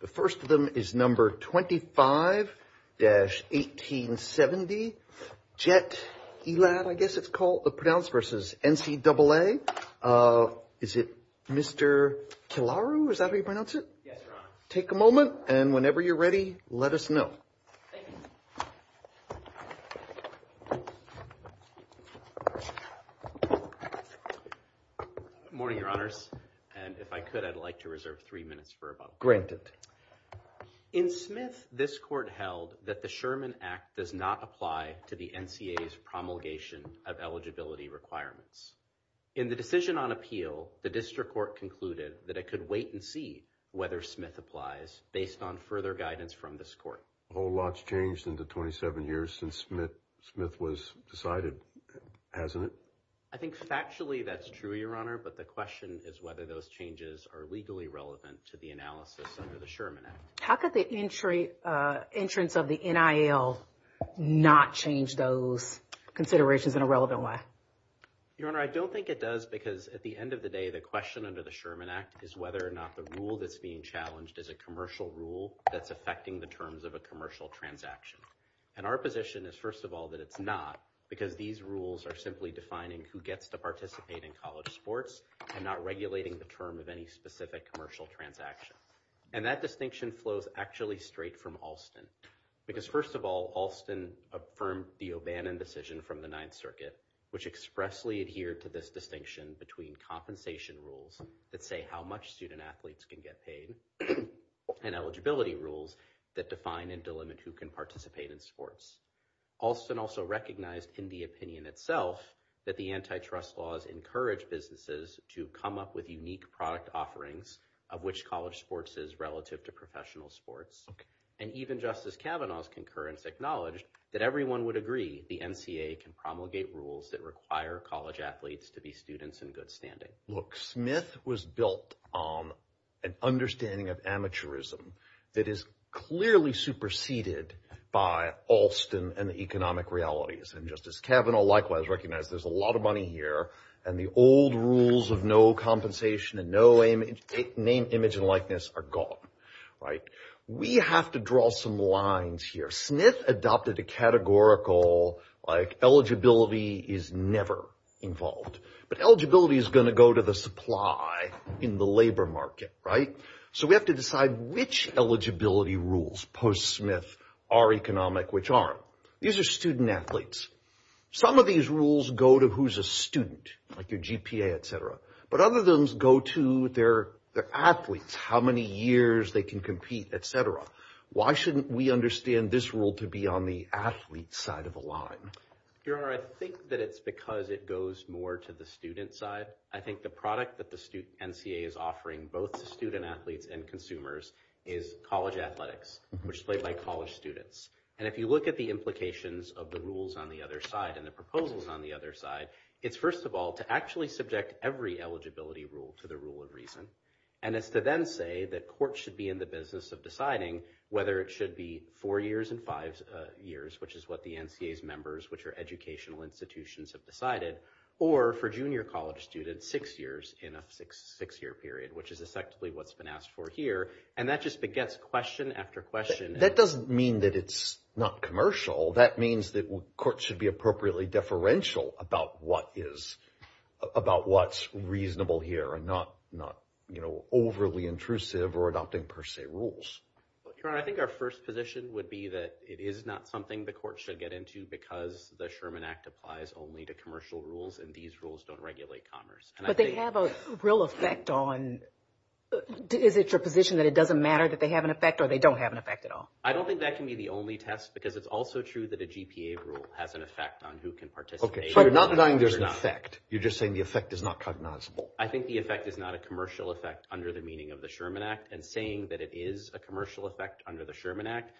The first of them is number 25-1870 Jet Elad, I guess it's called, pronounced versus NCAA. Is it Mr. Kilaru, is that how you pronounce it? Yes, Your Honor. Take a moment and whenever you're ready, let us know. Thank you. Good morning, Your Honors. And if I could, I'd like to reserve three minutes for a moment. Granted. In Smith, this court held that the Sherman Act does not apply to the NCAA's promulgation of eligibility requirements. In the decision on appeal, the district court concluded that it could wait and see whether Smith applies based on further guidance from this court. A whole lot's changed in the 27 years since Smith was decided, hasn't it? I think factually that's true, Your Honor, but the question is whether those changes are legally relevant to the analysis under the Sherman Act. How could the entrance of the NIL not change those considerations in a relevant way? Your Honor, I don't think it does because at the end of the day, the question under the Sherman Act is whether or not the rule that's being challenged is a commercial rule that's affecting the terms of a commercial transaction. And our position is, first of all, that it's not because these rules are simply defining who gets to participate in college sports and not regulating the term of any specific commercial transaction. And that distinction flows actually straight from Alston. Because first of all, Alston affirmed the O'Bannon decision from the Ninth Circuit, which expressly adhered to this distinction between compensation rules that say how much student athletes can get paid and eligibility rules that define and delimit who can participate in sports. Alston also recognized in the opinion itself that the antitrust laws encourage businesses to come up with unique product offerings of which college sports is relative to professional sports. And even Justice Kavanaugh's concurrence acknowledged that everyone would agree the NCAA can promulgate rules that require college athletes to be students in good standing. Look, Smith was built on an understanding of amateurism that is clearly superseded by Alston and the economic realities. And Justice Kavanaugh likewise recognized there's a lot of money here and the old rules of no compensation and no name, image and likeness are gone. Right. We have to draw some lines here. Smith adopted a categorical like eligibility is never involved, but eligibility is going to go to the supply in the labor market. Right. So we have to decide which eligibility rules post Smith are economic, which aren't. These are student athletes. Some of these rules go to who's a student like your GPA, etc. But other than those go to their athletes, how many years they can compete, etc. Why shouldn't we understand this rule to be on the athlete side of the line? Your Honor, I think that it's because it goes more to the student side. I think the product that the student NCAA is offering both student athletes and consumers is college athletics, which played by college students. And if you look at the implications of the rules on the other side and the proposals on the other side, it's first of all, to actually subject every eligibility rule to the rule of reason. And it's to then say that court should be in the business of deciding whether it should be four years and five years, which is what the NCAA members, which are educational institutions, have decided. Or for junior college students, six years in a six year period, which is effectively what's been asked for here. And that just begets question after question. That doesn't mean that it's not commercial. That means that courts should be appropriately deferential about what's reasonable here and not overly intrusive or adopting per se rules. Your Honor, I think our first position would be that it is not something the court should get into because the Sherman Act applies only to commercial rules and these rules don't regulate commerce. But they have a real effect on, is it your position that it doesn't matter that they have an effect or they don't have an effect at all? I don't think that can be the only test because it's also true that a GPA rule has an effect on who can participate. OK, so you're not denying there's an effect. You're just saying the effect is not cognizable. I think the effect is not a commercial effect under the meaning of the Sherman Act. And saying that it is a commercial effect under the Sherman Act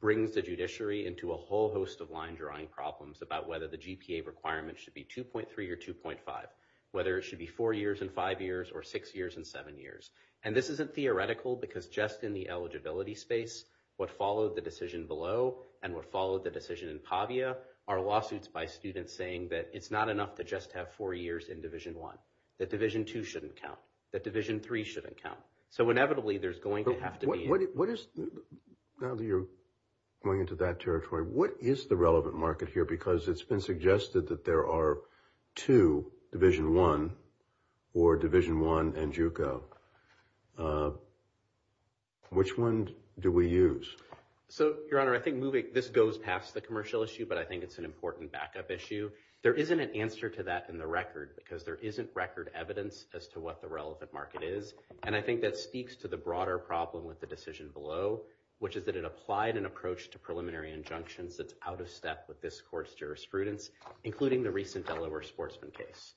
brings the judiciary into a whole host of line drawing problems about whether the GPA requirement should be 2.3 or 2.5, whether it should be four years and five years or six years and seven years. And this isn't theoretical because just in the eligibility space, what followed the decision below and what followed the decision in PAVIA are lawsuits by students saying that it's not enough to just have four years in Division I, that Division II shouldn't count, that Division III shouldn't count. So inevitably, there's going to have to be... Now that you're going into that territory, what is the relevant market here? Because it's been suggested that there are two, Division I or Division I and JUCO. Which one do we use? So, Your Honor, I think this goes past the commercial issue, but I think it's an important backup issue. There isn't an answer to that in the record because there isn't record evidence as to what the relevant market is. And I think that speaks to the broader problem with the decision below, which is that it applied an approach to preliminary injunctions that's out of step with this court's jurisprudence, including the recent Delaware sportsman case.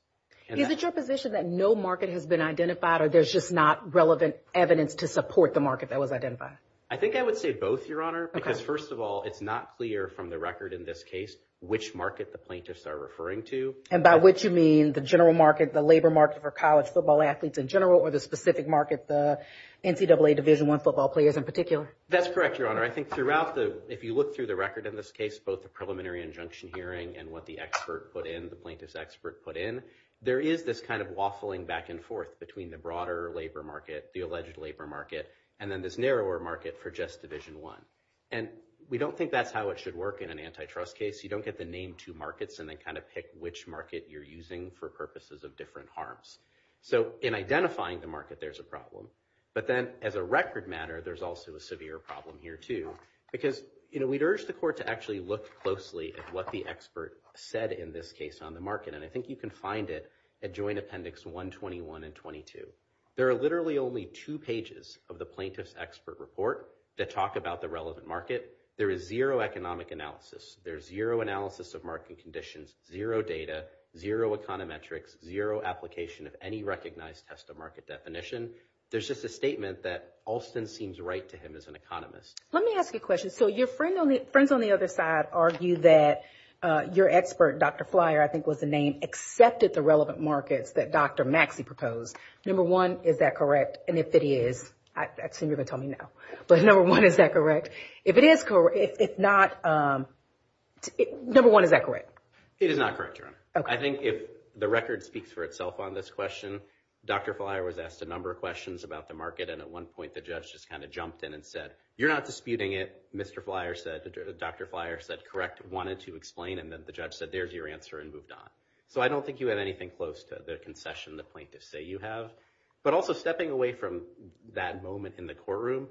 Is it your position that no market has been identified or there's just not relevant evidence to support the market that was identified? I think I would say both, Your Honor, because first of all, it's not clear from the record in this case which market the plaintiffs are referring to. And by which you mean the general market, the labor market for college football athletes in general, or the specific market, the NCAA Division I football players in particular? That's correct, Your Honor. I think throughout the... If you look through the record in this case, both the preliminary injunction hearing and what the expert put in, the plaintiff's expert put in, there is this kind of waffling back and forth between the broader labor market, the alleged labor market, and then this narrower market for just Division I. And we don't think that's how it should work in an antitrust case. You don't get to name two markets and then kind of pick which market you're using for purposes of different harms. So in identifying the market, there's a problem. But then as a record matter, there's also a severe problem here, too, because we'd urge the court to actually look closely at what the expert said in this case on the market. And I think you can find it at Joint Appendix 121 and 22. There are literally only two pages of the plaintiff's expert report that talk about the relevant market. There is zero economic analysis. There's zero analysis of market conditions, zero data, zero econometrics, zero application of any recognized test of market definition. There's just a statement that Alston seems right to him as an economist. Let me ask you a question. So your friends on the other side argue that your expert, Dr. Flier, I think was the name, accepted the relevant markets that Dr. Maxey proposed. Number one, is that correct? And if it is, I assume you're going to tell me no. But number one, is that correct? If it is correct, if not, number one, is that correct? It is not correct, Your Honor. I think if the record speaks for itself on this question, Dr. Flier was asked a number of questions about the market. And at one point, the judge just kind of jumped in and said, you're not disputing it. Mr. Flier said, Dr. Flier said, correct, wanted to explain. And then the judge said, there's your answer, and moved on. So I don't think you have anything close to the concession the plaintiffs say you have. But also, stepping away from that moment in the courtroom,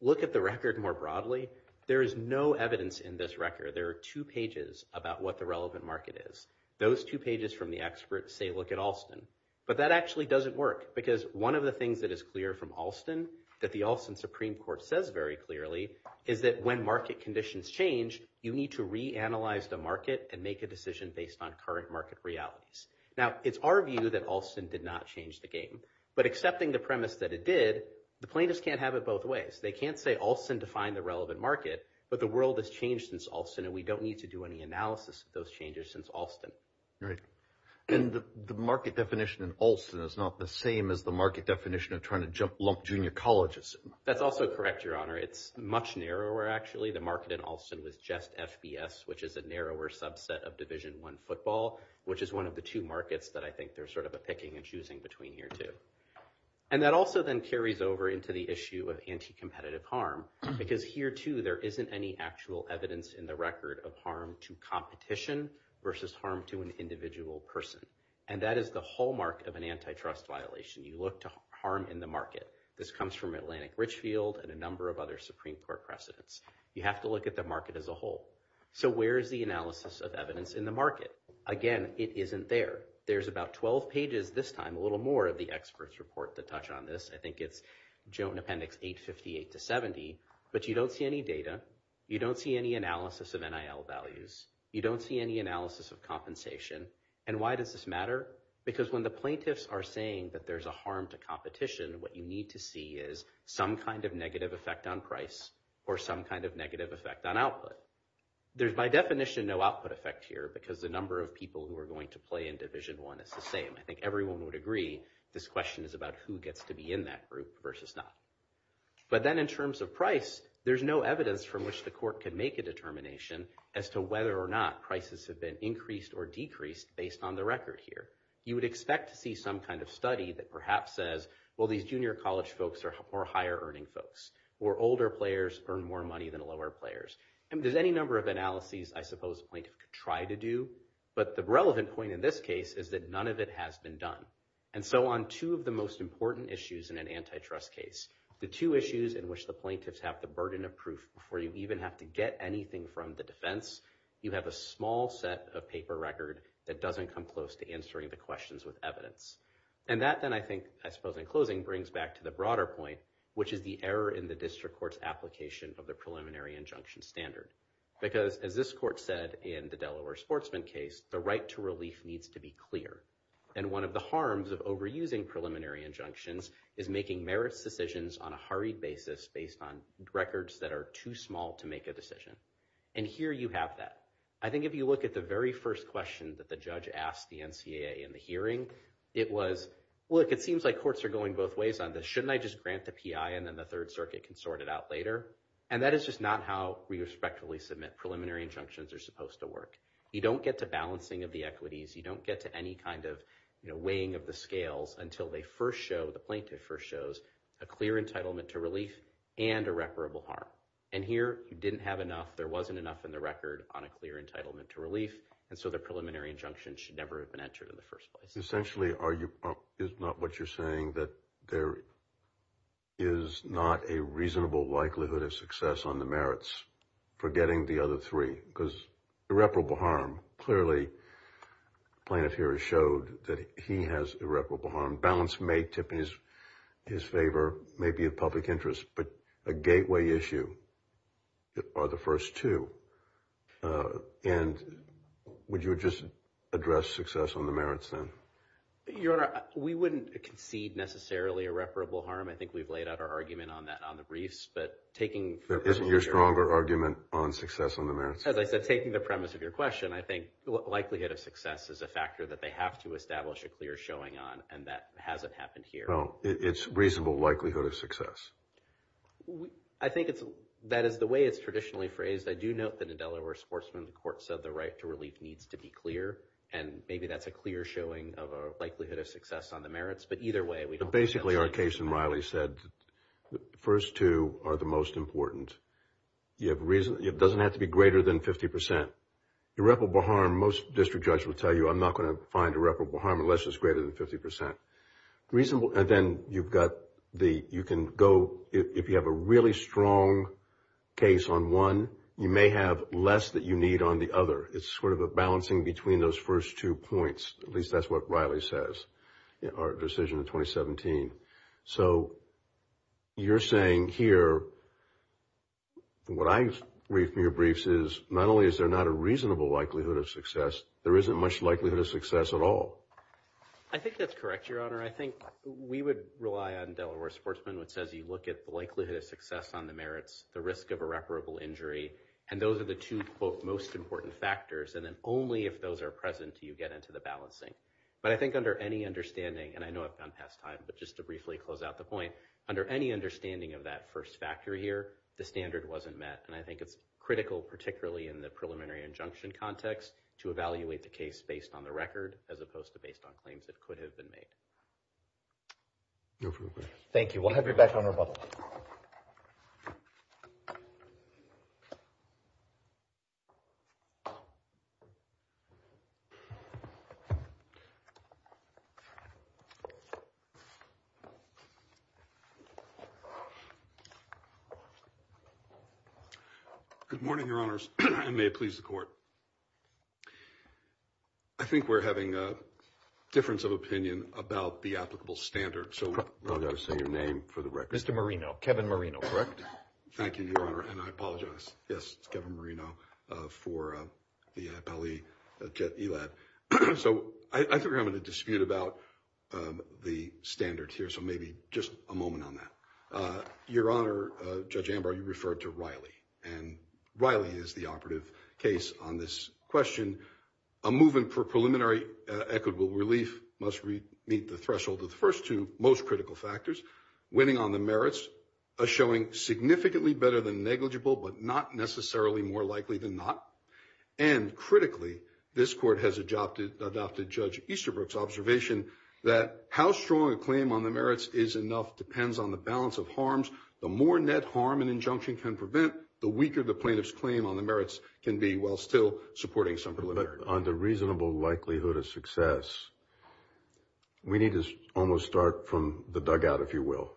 look at the record more broadly. There is no evidence in this record. There are two pages about what the relevant market is. Those two pages from the expert say, look at Alston. But that actually doesn't work, because one of the things that is clear from Alston, that the Alston Supreme Court says very clearly, is that when market conditions change, you need to reanalyze the market and make a decision based on current market realities. Now, it's our view that Alston did not change the game. But accepting the premise that it did, the plaintiffs can't have it both ways. They can't say Alston defined the relevant market, but the world has changed since Alston, and we don't need to do any analysis of those changes since Alston. Right. And the market definition in Alston is not the same as the market definition of trying to jump lump junior colleges. That's also correct, Your Honor. It's much narrower, actually. The market in Alston was just FBS, which is a narrower subset of Division I football, which is one of the two markets that I think there's sort of a picking and choosing between here, too. And that also then carries over into the issue of anti-competitive harm, because here, too, there isn't any actual evidence in the record of harm to competition versus harm to an individual person. And that is the hallmark of an antitrust violation. You look to harm in the market. This comes from Atlantic Richfield and a number of other Supreme Court precedents. You have to look at the market as a whole. So where is the analysis of evidence in the market? Again, it isn't there. There's about 12 pages this time, a little more of the experts' report that touch on this. I think it's Joe in Appendix 858 to 70. But you don't see any data. You don't see any analysis of NIL values. You don't see any analysis of compensation. And why does this matter? Because when the plaintiffs are saying that there's a harm to competition, what you need to see is some kind of negative effect on price or some kind of negative effect on output. There's, by definition, no output effect here, because the number of people who are going to play in Division I is the same. I think everyone would agree this question is about who gets to be in that group versus not. But then in terms of price, there's no evidence from which the court can make a determination as to whether or not prices have been increased or decreased based on the record here. You would expect to see some kind of study that perhaps says, well, these junior college folks are higher earning folks, or older players earn more money than lower players. And there's any number of analyses I suppose a plaintiff could try to do. But the relevant point in this case is that none of it has been done. And so on two of the most important issues in an antitrust case, the two issues in which the plaintiffs have the burden of proof before you even have to get anything from the defense, you have a small set of paper record that doesn't come close to answering the questions with evidence. And that then I think, I suppose in closing, brings back to the broader point, which is the error in the district court's application of the preliminary injunction standard. Because as this court said in the Delaware sportsman case, the right to relief needs to be clear. And one of the harms of overusing preliminary injunctions is making merits decisions on a hurried basis based on records that are too small to make a decision. And here you have that. I think if you look at the very first question that the judge asked the NCAA in the hearing, it was, look, it seems like courts are going both ways on this. Shouldn't I just grant the PI and then the Third Circuit can sort it out later? And that is just not how we respectfully submit preliminary injunctions are supposed to work. You don't get to balancing of the equities. You don't get to any kind of weighing of the scales until they first show, the plaintiff first shows, a clear entitlement to relief and irreparable harm. And here you didn't have enough. There wasn't enough in the record on a clear entitlement to relief. And so the preliminary injunction should never have been entered in the first place. Essentially, is not what you're saying, that there is not a reasonable likelihood of success on the merits for getting the other three? Because irreparable harm, clearly plaintiff here has showed that he has irreparable harm. The balance may tip in his favor, maybe of public interest, but a gateway issue are the first two. And would you just address success on the merits then? Your Honor, we wouldn't concede necessarily irreparable harm. I think we've laid out our argument on that on the briefs. But taking your stronger argument on success on the merits, as I said, taking the premise of your question, I think likelihood of success is a factor that they have to establish a clear showing on. And that hasn't happened here. Well, it's reasonable likelihood of success. I think that is the way it's traditionally phrased. I do note that in Delaware sportsmen, the court said the right to relief needs to be clear. And maybe that's a clear showing of a likelihood of success on the merits. But either way, we don't— But basically, our case in Riley said the first two are the most important. It doesn't have to be greater than 50%. Irreparable harm, most district judges will tell you, I'm not going to find irreparable harm unless it's greater than 50%. And then you've got the—you can go, if you have a really strong case on one, you may have less that you need on the other. It's sort of a balancing between those first two points. At least that's what Riley says, our decision in 2017. So you're saying here, what I read from your briefs is not only is there not a reasonable likelihood of success, there isn't much likelihood of success at all. I think that's correct, Your Honor. I think we would rely on Delaware sportsmen, which says you look at the likelihood of success on the merits, the risk of irreparable injury. And those are the two, quote, most important factors. And then only if those are present do you get into the balancing. But I think under any understanding, and I know I've gone past time, but just to briefly close out the point, under any understanding of that first factor here, the standard wasn't met. And I think it's critical, particularly in the preliminary injunction context, to evaluate the case based on the record as opposed to based on claims that could have been made. No further questions. Thank you. We'll have you back on rebuttal. Good morning, Your Honors, and may it please the Court. I think we're having a difference of opinion about the applicable standard. So I'll just say your name for the record. Mr. Marino, Kevin Marino, correct? Thank you, Your Honor, and I apologize. Yes, it's Kevin Marino for the Appellee eLab. So I think we're having a dispute about the standard here, so maybe just a moment on that. Your Honor, Judge Ambar, you referred to Riley, and Riley is the operative case on this question. A movement for preliminary equitable relief must meet the threshold of the first two most critical factors. Winning on the merits is showing significantly better than negligible, but not necessarily more likely than not. And critically, this Court has adopted Judge Easterbrook's observation that how strong a claim on the merits is enough depends on the balance of harms. The more net harm an injunction can prevent, the weaker the plaintiff's claim on the merits can be while still supporting some preliminary. But on the reasonable likelihood of success, we need to almost start from the dugout, if you will.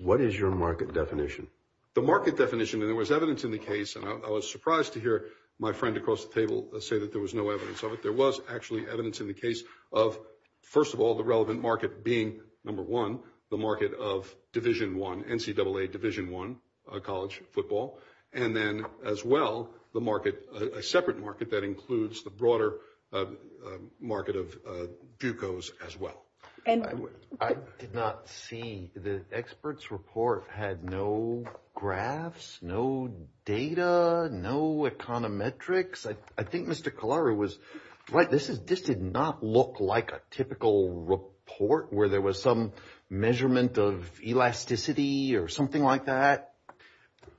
What is your market definition? The market definition, and there was evidence in the case, and I was surprised to hear my friend across the table say that there was no evidence of it. There was actually evidence in the case of, first of all, the relevant market being, number one, the market of Division I, NCAA Division I college football, and then, as well, the market, a separate market that includes the broader market of bucos as well. I did not see the expert's report had no graphs, no data, no econometrics. I think Mr. Kallara was right. This did not look like a typical report where there was some measurement of elasticity or something like that.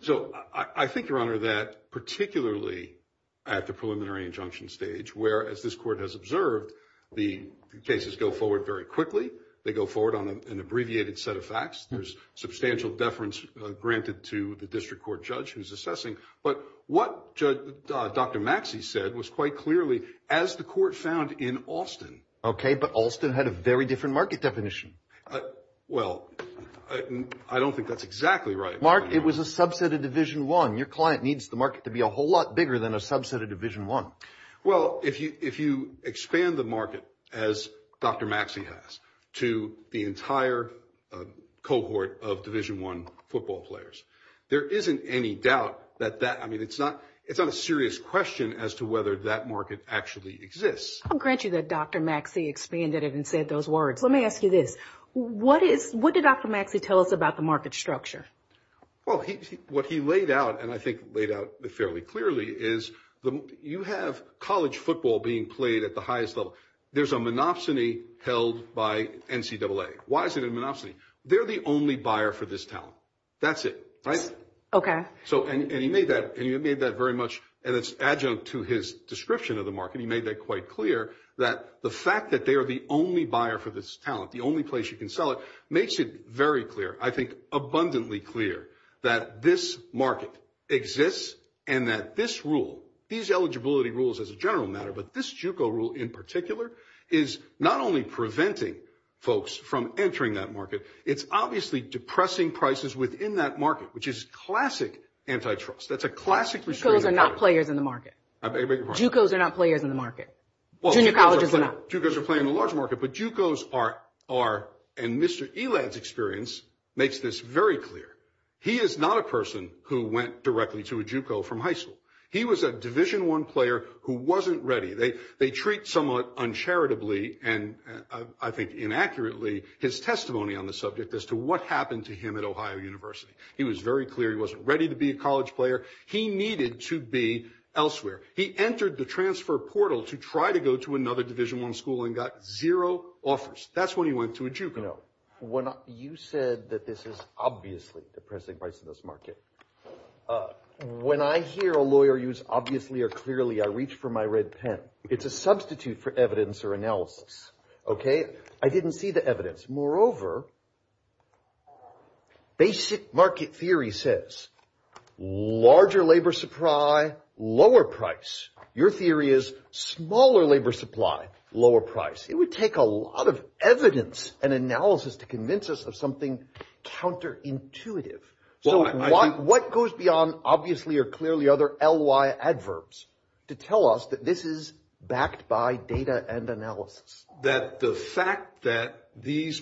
So I think, Your Honor, that particularly at the preliminary injunction stage, where, as this court has observed, the cases go forward very quickly, they go forward on an abbreviated set of facts, there's substantial deference granted to the district court judge who's assessing, but what Dr. Maxey said was quite clearly, as the court found in Alston. Okay, but Alston had a very different market definition. Well, I don't think that's exactly right. Mark, it was a subset of Division I. Your client needs the market to be a whole lot bigger than a subset of Division I. Well, if you expand the market, as Dr. Maxey has, to the entire cohort of Division I football players, there isn't any doubt that that, I mean, it's not a serious question as to whether that market actually exists. I'll grant you that Dr. Maxey expanded it and said those words. Let me ask you this. What did Dr. Maxey tell us about the market structure? Well, what he laid out, and I think laid out fairly clearly, is you have college football being played at the highest level. There's a monopsony held by NCAA. Why is it a monopsony? They're the only buyer for this talent. That's it, right? Okay. And he made that very much an adjunct to his description of the market. And he made that quite clear, that the fact that they are the only buyer for this talent, the only place you can sell it, makes it very clear, I think abundantly clear, that this market exists and that this rule, these eligibility rules as a general matter, but this JUCO rule in particular, is not only preventing folks from entering that market, it's obviously depressing prices within that market, which is classic antitrust. That's a classic restraining order. JUCOs are not players in the market. I beg your pardon? JUCOs are not players in the market. Junior colleges are not. JUCOs are playing a large market, but JUCOs are, and Mr. Elad's experience makes this very clear. He is not a person who went directly to a JUCO from high school. He was a Division I player who wasn't ready. They treat somewhat uncharitably and I think inaccurately his testimony on the subject as to what happened to him at Ohio University. He was very clear he wasn't ready to be a college player. He needed to be elsewhere. He entered the transfer portal to try to go to another Division I school and got zero offers. That's when he went to a JUCO. You know, when you said that this is obviously depressing prices in this market, when I hear a lawyer use obviously or clearly, I reach for my red pen. It's a substitute for evidence or analysis. Okay? I didn't see the evidence. Moreover, basic market theory says larger labor supply, lower price. Your theory is smaller labor supply, lower price. It would take a lot of evidence and analysis to convince us of something counterintuitive. What goes beyond obviously or clearly other L.Y. adverbs to tell us that this is backed by data and analysis? That the fact that this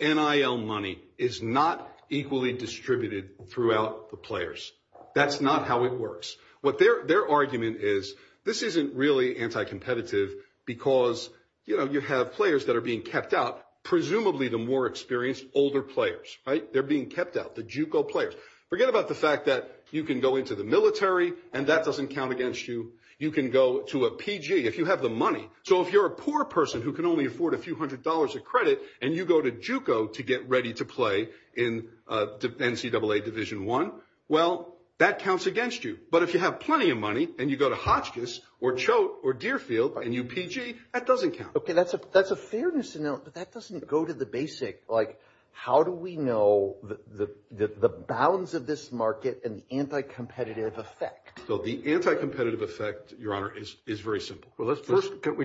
NIL money is not equally distributed throughout the players. That's not how it works. Their argument is this isn't really anti-competitive because, you know, you have players that are being kept out, presumably the more experienced older players, right? They're being kept out, the JUCO players. Forget about the fact that you can go into the military and that doesn't count against you. You can go to a PG if you have the money. So if you're a poor person who can only afford a few hundred dollars of credit and you go to JUCO to get ready to play in NCAA Division I, well, that counts against you. But if you have plenty of money and you go to Hotchkiss or Choate or Deerfield and you PG, that doesn't count. Okay, that's a fairness to note, but that doesn't go to the basic, like, how do we know the balance of this market and the anti-competitive effect? So the anti-competitive effect, Your Honor, is very simple. Well, let's first get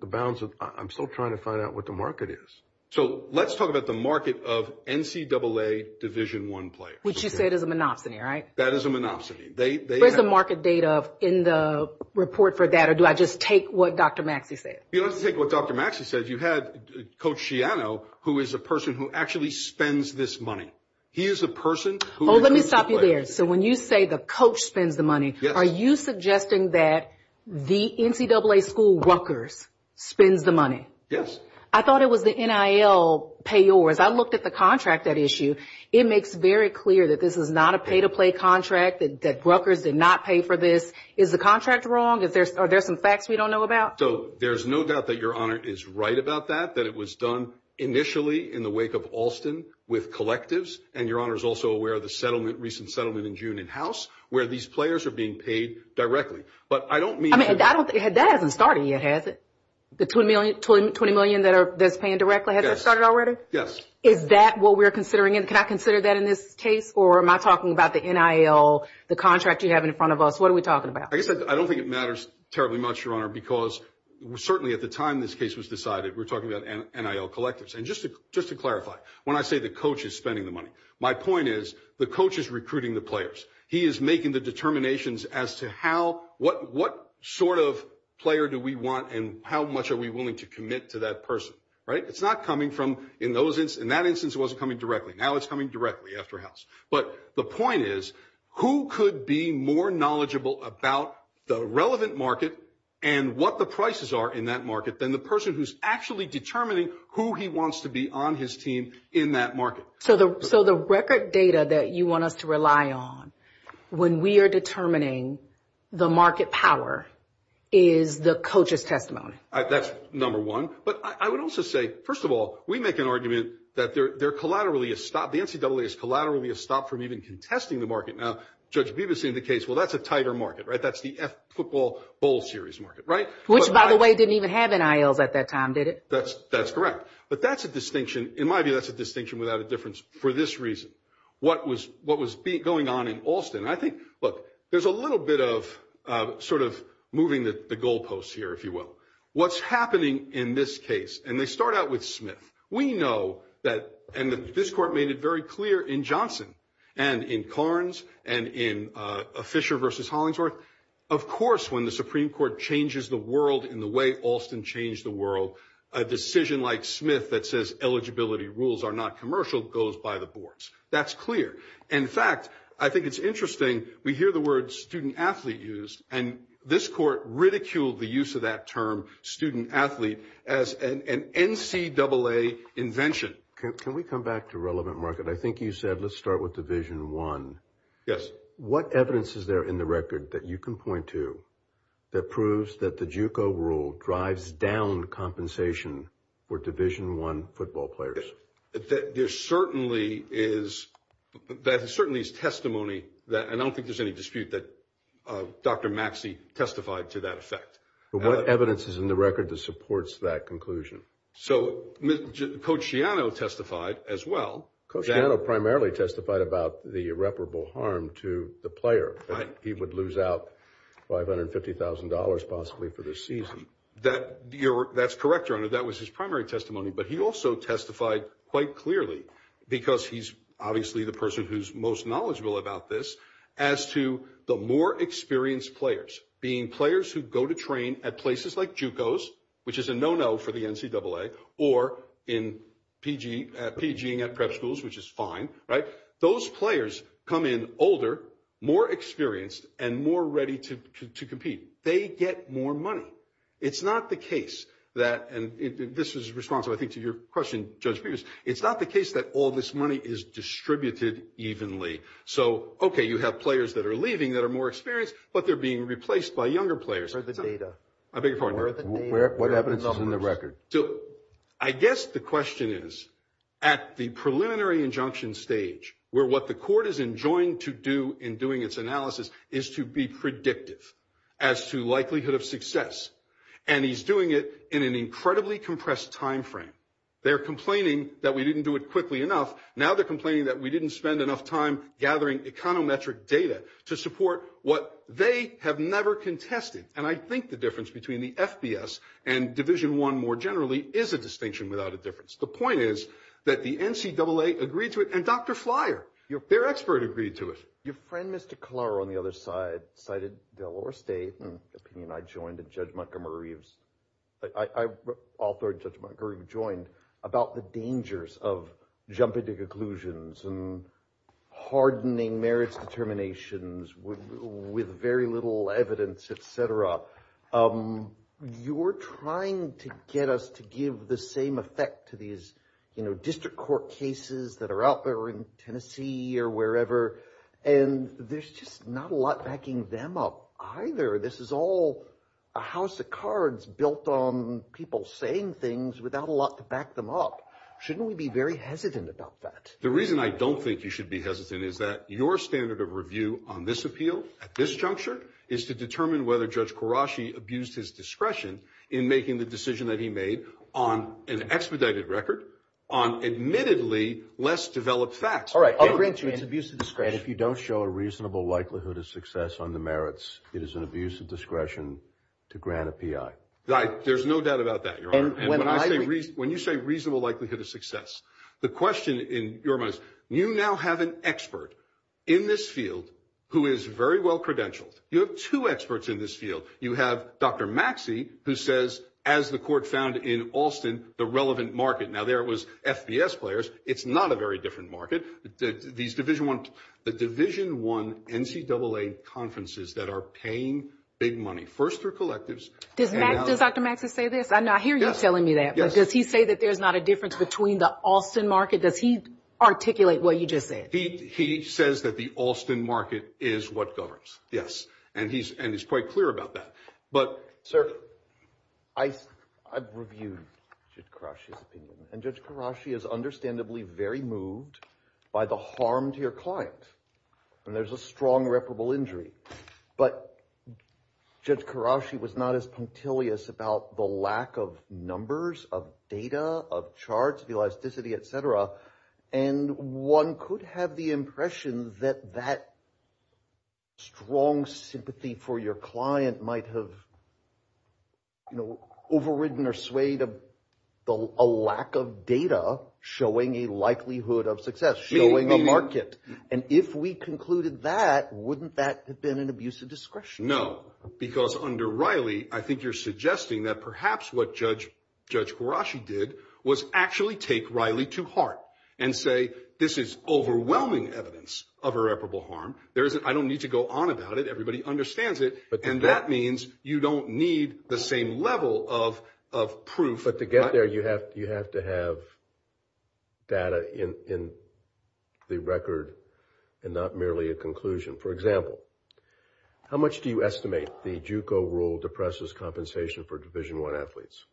the balance. I'm still trying to find out what the market is. So let's talk about the market of NCAA Division I players. Which you said is a monopsony, right? That is a monopsony. Where's the market data in the report for that, or do I just take what Dr. Maxey said? You don't have to take what Dr. Maxey said. You have Coach Shiano, who is a person who actually spends this money. He is a person who includes the players. Oh, let me stop you there. So when you say the coach spends the money, are you suggesting that the NCAA school, Rutgers, spends the money? Yes. I thought it was the NIL payors. I looked at the contract at issue. It makes very clear that this is not a pay-to-play contract, that Rutgers did not pay for this. Is the contract wrong? Are there some facts we don't know about? So there's no doubt that Your Honor is right about that, that it was done initially in the wake of Alston with collectives, and Your Honor is also aware of the recent settlement in June in-house, where these players are being paid directly. But I don't mean to – That hasn't started yet, has it? The $20 million that's paying directly, has that started already? Yes. Is that what we're considering? Can I consider that in this case, or am I talking about the NIL, the contract you have in front of us? What are we talking about? I don't think it matters terribly much, Your Honor, because certainly at the time this case was decided, we're talking about NIL collectives. And just to clarify, when I say the coach is spending the money, my point is the coach is recruiting the players. He is making the determinations as to what sort of player do we want and how much are we willing to commit to that person, right? It's not coming from – in that instance, it wasn't coming directly. Now it's coming directly after house. But the point is, who could be more knowledgeable about the relevant market and what the prices are in that market than the person who's actually determining who he wants to be on his team in that market. So the record data that you want us to rely on when we are determining the market power is the coach's testimony. That's number one. But I would also say, first of all, we make an argument that they're collaterally – the NCAA is collaterally stopped from even contesting the market. Now, Judge Bibas in the case, well, that's a tighter market, right? That's the F football bowl series market, right? Which, by the way, didn't even have NILs at that time, did it? That's correct. But that's a distinction – in my view, that's a distinction without a difference for this reason. What was going on in Alston? I think, look, there's a little bit of sort of moving the goalposts here, if you will. What's happening in this case – and they start out with Smith. We know that – and this court made it very clear in Johnson and in Carnes and in Fisher v. Hollingsworth. Of course, when the Supreme Court changes the world in the way Alston changed the world, a decision like Smith that says eligibility rules are not commercial goes by the boards. That's clear. In fact, I think it's interesting. We hear the word student-athlete used, and this court ridiculed the use of that term, student-athlete, as an NCAA invention. Can we come back to relevant market? I think you said let's start with Division I. Yes. What evidence is there in the record that you can point to that proves that the JUCO rule drives down compensation for Division I football players? There certainly is – that certainly is testimony that – and I don't think there's any dispute that Dr. Maxey testified to that effect. But what evidence is in the record that supports that conclusion? So Coach Shiano testified as well. Coach Shiano primarily testified about the irreparable harm to the player. He would lose out $550,000 possibly for this season. That's correct, Your Honor. That was his primary testimony. But he also testified quite clearly, because he's obviously the person who's most knowledgeable about this, as to the more experienced players being players who go to train at places like JUCOs, which is a no-no for the NCAA, or in PG at prep schools, which is fine, right? Those players come in older, more experienced, and more ready to compete. They get more money. It's not the case that – and this is responsive, I think, to your question, Judge Peebles. It's not the case that all this money is distributed evenly. So, okay, you have players that are leaving that are more experienced, but they're being replaced by younger players. Or the data. I beg your pardon? What evidence is in the record? I guess the question is, at the preliminary injunction stage, where what the court is enjoying to do in doing its analysis is to be predictive as to likelihood of success, and he's doing it in an incredibly compressed time frame. They're complaining that we didn't do it quickly enough. Now they're complaining that we didn't spend enough time gathering econometric data to support what they have never contested. And I think the difference between the FBS and Division I, more generally, is a distinction without a difference. The point is that the NCAA agreed to it, and Dr. Flyer, their expert, agreed to it. Your friend, Mr. Collaro, on the other side, cited Delaware State, an opinion I joined and Judge Montgomery Reeves – I authored and Judge Montgomery Reeves joined – about the dangers of jumping to conclusions and hardening marriage determinations with very little evidence, et cetera. You're trying to get us to give the same effect to these district court cases that are out there in Tennessee or wherever, and there's just not a lot backing them up either. This is all a house of cards built on people saying things without a lot to back them up. Shouldn't we be very hesitant about that? The reason I don't think you should be hesitant is that your standard of review on this appeal at this juncture is to determine whether Judge Karashi abused his discretion in making the decision that he made on an expedited record on admittedly less developed facts. All right, I'll grant you its abuse of discretion. And if you don't show a reasonable likelihood of success on the merits, it is an abuse of discretion to grant a PI. There's no doubt about that, Your Honor. When you say reasonable likelihood of success, the question in your mind is, you now have an expert in this field who is very well credentialed. You have two experts in this field. You have Dr. Maxey who says, as the court found in Alston, the relevant market. Now, there it was, FBS players. It's not a very different market. The Division I NCAA conferences that are paying big money, first through collectives. Does Dr. Maxey say this? I hear you telling me that, but does he say that there's not a difference between the Alston market? Does he articulate what you just said? He says that the Alston market is what governs, yes. And he's quite clear about that. Sir, I've reviewed Judge Karashi's opinion, and Judge Karashi is understandably very moved by the harm to your client. And there's a strong reparable injury. But Judge Karashi was not as punctilious about the lack of numbers, of data, of charts, of elasticity, et cetera. And one could have the impression that that strong sympathy for your client might have, you know, overridden or swayed a lack of data showing a likelihood of success, showing a market. And if we concluded that, wouldn't that have been an abuse of discretion? No, because under Riley, I think you're suggesting that perhaps what Judge Karashi did was actually take Riley to heart and say this is overwhelming evidence of reparable harm. I don't need to go on about it. Everybody understands it. And that means you don't need the same level of proof. But to get there, you have to have data in the record and not merely a conclusion. For example, how much do you estimate the JUCO rule depresses compensation for Division I athletes?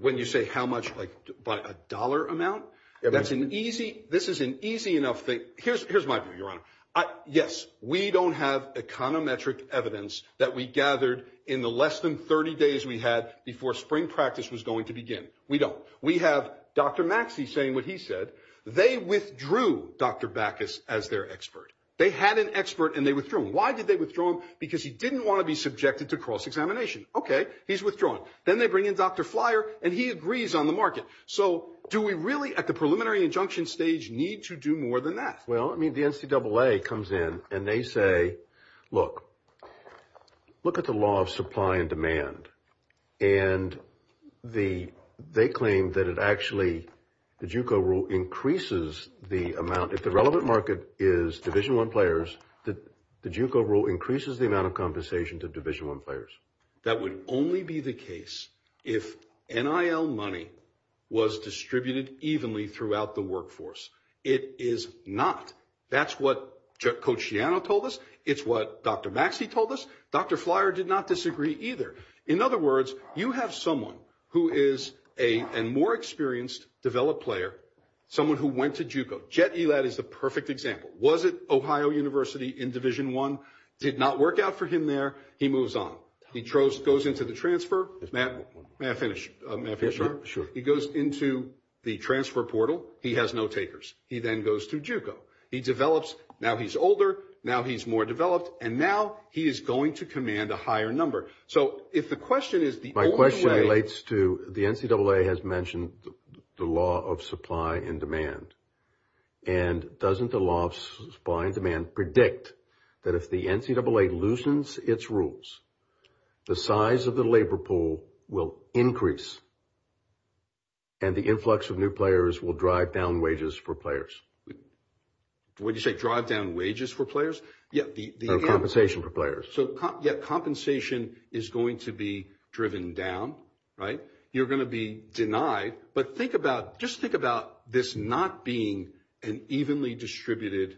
When you say how much, like by a dollar amount? This is an easy enough thing. Here's my view, Your Honor. Yes, we don't have econometric evidence that we gathered in the less than 30 days we had before spring practice was going to begin. We don't. We have Dr. Maxey saying what he said. They withdrew Dr. Backus as their expert. They had an expert and they withdrew him. Why did they withdraw him? Because he didn't want to be subjected to cross-examination. Okay, he's withdrawn. Then they bring in Dr. Flyer and he agrees on the market. So do we really at the preliminary injunction stage need to do more than that? Well, I mean, the NCAA comes in and they say, look, look at the law of supply and demand. And they claim that it actually, the JUCO rule increases the amount. If the relevant market is Division I players, the JUCO rule increases the amount of compensation to Division I players. That would only be the case if NIL money was distributed evenly throughout the workforce. It is not. That's what Coach Shiano told us. It's what Dr. Maxey told us. Dr. Flyer did not disagree either. In other words, you have someone who is a more experienced, developed player, someone who went to JUCO. Jet Elad is the perfect example. Was at Ohio University in Division I, did not work out for him there. He moves on. He goes into the transfer. May I finish? He goes into the transfer portal. He has no takers. He then goes to JUCO. He develops. Now he's older. Now he's more developed. And now he is going to command a higher number. So if the question is the only way. My question relates to the NCAA has mentioned the law of supply and demand. And doesn't the law of supply and demand predict that if the NCAA loosens its rules, the size of the labor pool will increase? And the influx of new players will drive down wages for players? What did you say? Drive down wages for players? Compensation for players. So, yeah, compensation is going to be driven down. Right? You're going to be denied. But think about, just think about this not being an evenly distributed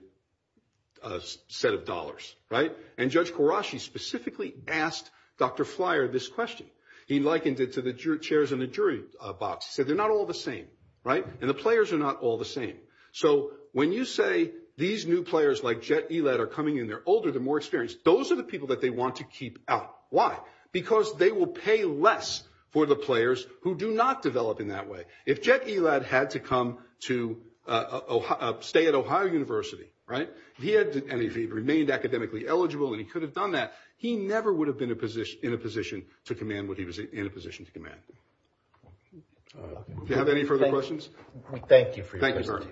set of dollars. Right? And Judge Karashi specifically asked Dr. Flyer this question. He likened it to the chairs in the jury box. He said they're not all the same. Right? And the players are not all the same. So when you say these new players like Jet Elad are coming in, they're older, they're more experienced, those are the people that they want to keep out. Why? Because they will pay less for the players who do not develop in that way. If Jet Elad had to come to stay at Ohio University, right, and if he remained academically eligible and he could have done that, he never would have been in a position to command what he was in a position to command. Do you have any further questions? Thank you for your presentation. Thank you, Your Honor.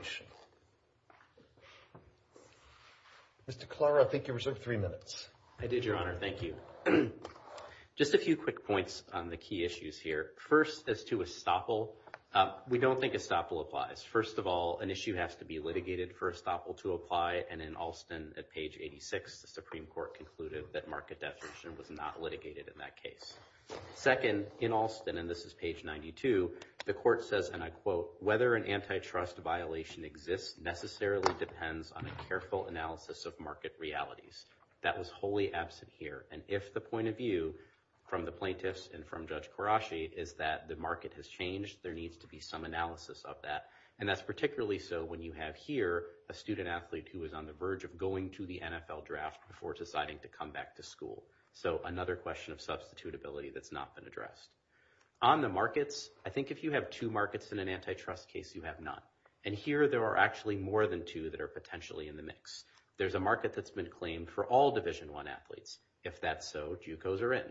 Mr. Klara, I think you reserved three minutes. I did, Your Honor. Thank you. Just a few quick points on the key issues here. First, as to estoppel, we don't think estoppel applies. First of all, an issue has to be litigated for estoppel to apply. And in Alston, at page 86, the Supreme Court concluded that market definition was not litigated in that case. Second, in Alston, and this is page 92, the court says, and I quote, whether an antitrust violation exists necessarily depends on a careful analysis of market realities. That was wholly absent here. And if the point of view from the plaintiffs and from Judge Karashi is that the market has changed, there needs to be some analysis of that. And that's particularly so when you have here a student athlete who is on the verge of going to the NFL draft before deciding to come back to school. So another question of substitutability that's not been addressed. On the markets, I think if you have two markets in an antitrust case, you have none. And here there are actually more than two that are potentially in the mix. There's a market that's been claimed for all Division I athletes. If that's so, JUCOs are in.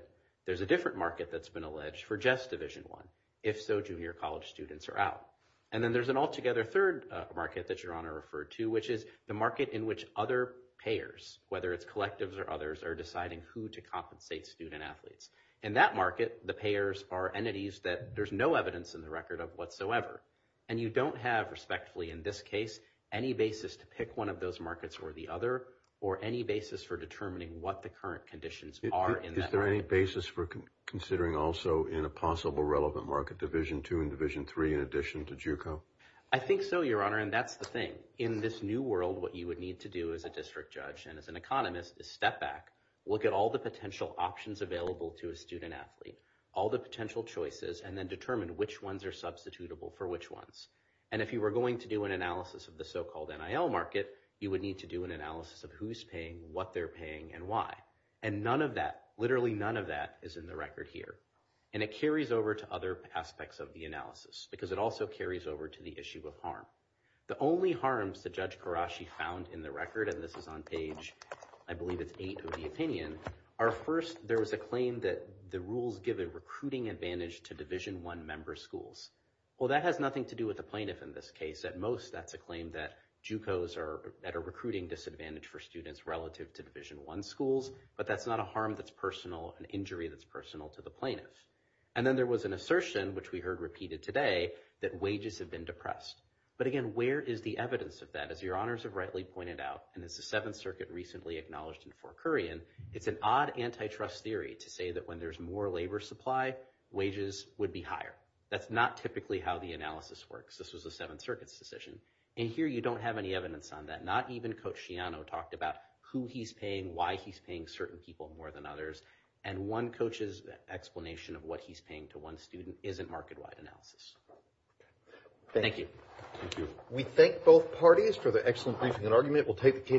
There's a different market that's been alleged for just Division I. If so, junior college students are out. And then there's an altogether third market that Your Honor referred to, which is the market in which other payers, whether it's collectives or others, are deciding who to compensate student athletes. In that market, the payers are entities that there's no evidence in the record of whatsoever. And you don't have, respectfully in this case, any basis to pick one of those markets or the other, or any basis for determining what the current conditions are in that market. Is there any basis for considering also in a possible relevant market Division II and Division III in addition to JUCO? I think so, Your Honor, and that's the thing. In this new world, what you would need to do as a district judge and as an economist is step back, look at all the potential options available to a student athlete, all the potential choices, and then determine which ones are substitutable for which ones. And if you were going to do an analysis of the so-called NIL market, you would need to do an analysis of who's paying, what they're paying, and why. And none of that, literally none of that, is in the record here. And it carries over to other aspects of the analysis, because it also carries over to the issue of harm. The only harms that Judge Karashi found in the record, and this is on page, I believe it's 8 of the opinion, are first, there was a claim that the rules give a recruiting advantage to Division I member schools. Well, that has nothing to do with the plaintiff in this case. At most, that's a claim that JUCOs are at a recruiting disadvantage for students relative to Division I schools. But that's not a harm that's personal, an injury that's personal to the plaintiff. And then there was an assertion, which we heard repeated today, that wages have been depressed. But again, where is the evidence of that? As your honors have rightly pointed out, and as the Seventh Circuit recently acknowledged in Fort Kurian, it's an odd antitrust theory to say that when there's more labor supply, wages would be higher. That's not typically how the analysis works. This was the Seventh Circuit's decision. And here you don't have any evidence on that. Not even Coach Shiano talked about who he's paying, why he's paying certain people more than others. And one coach's explanation of what he's paying to one student isn't market-wide analysis. Thank you. Thank you. We thank both parties for their excellent thinking and argument.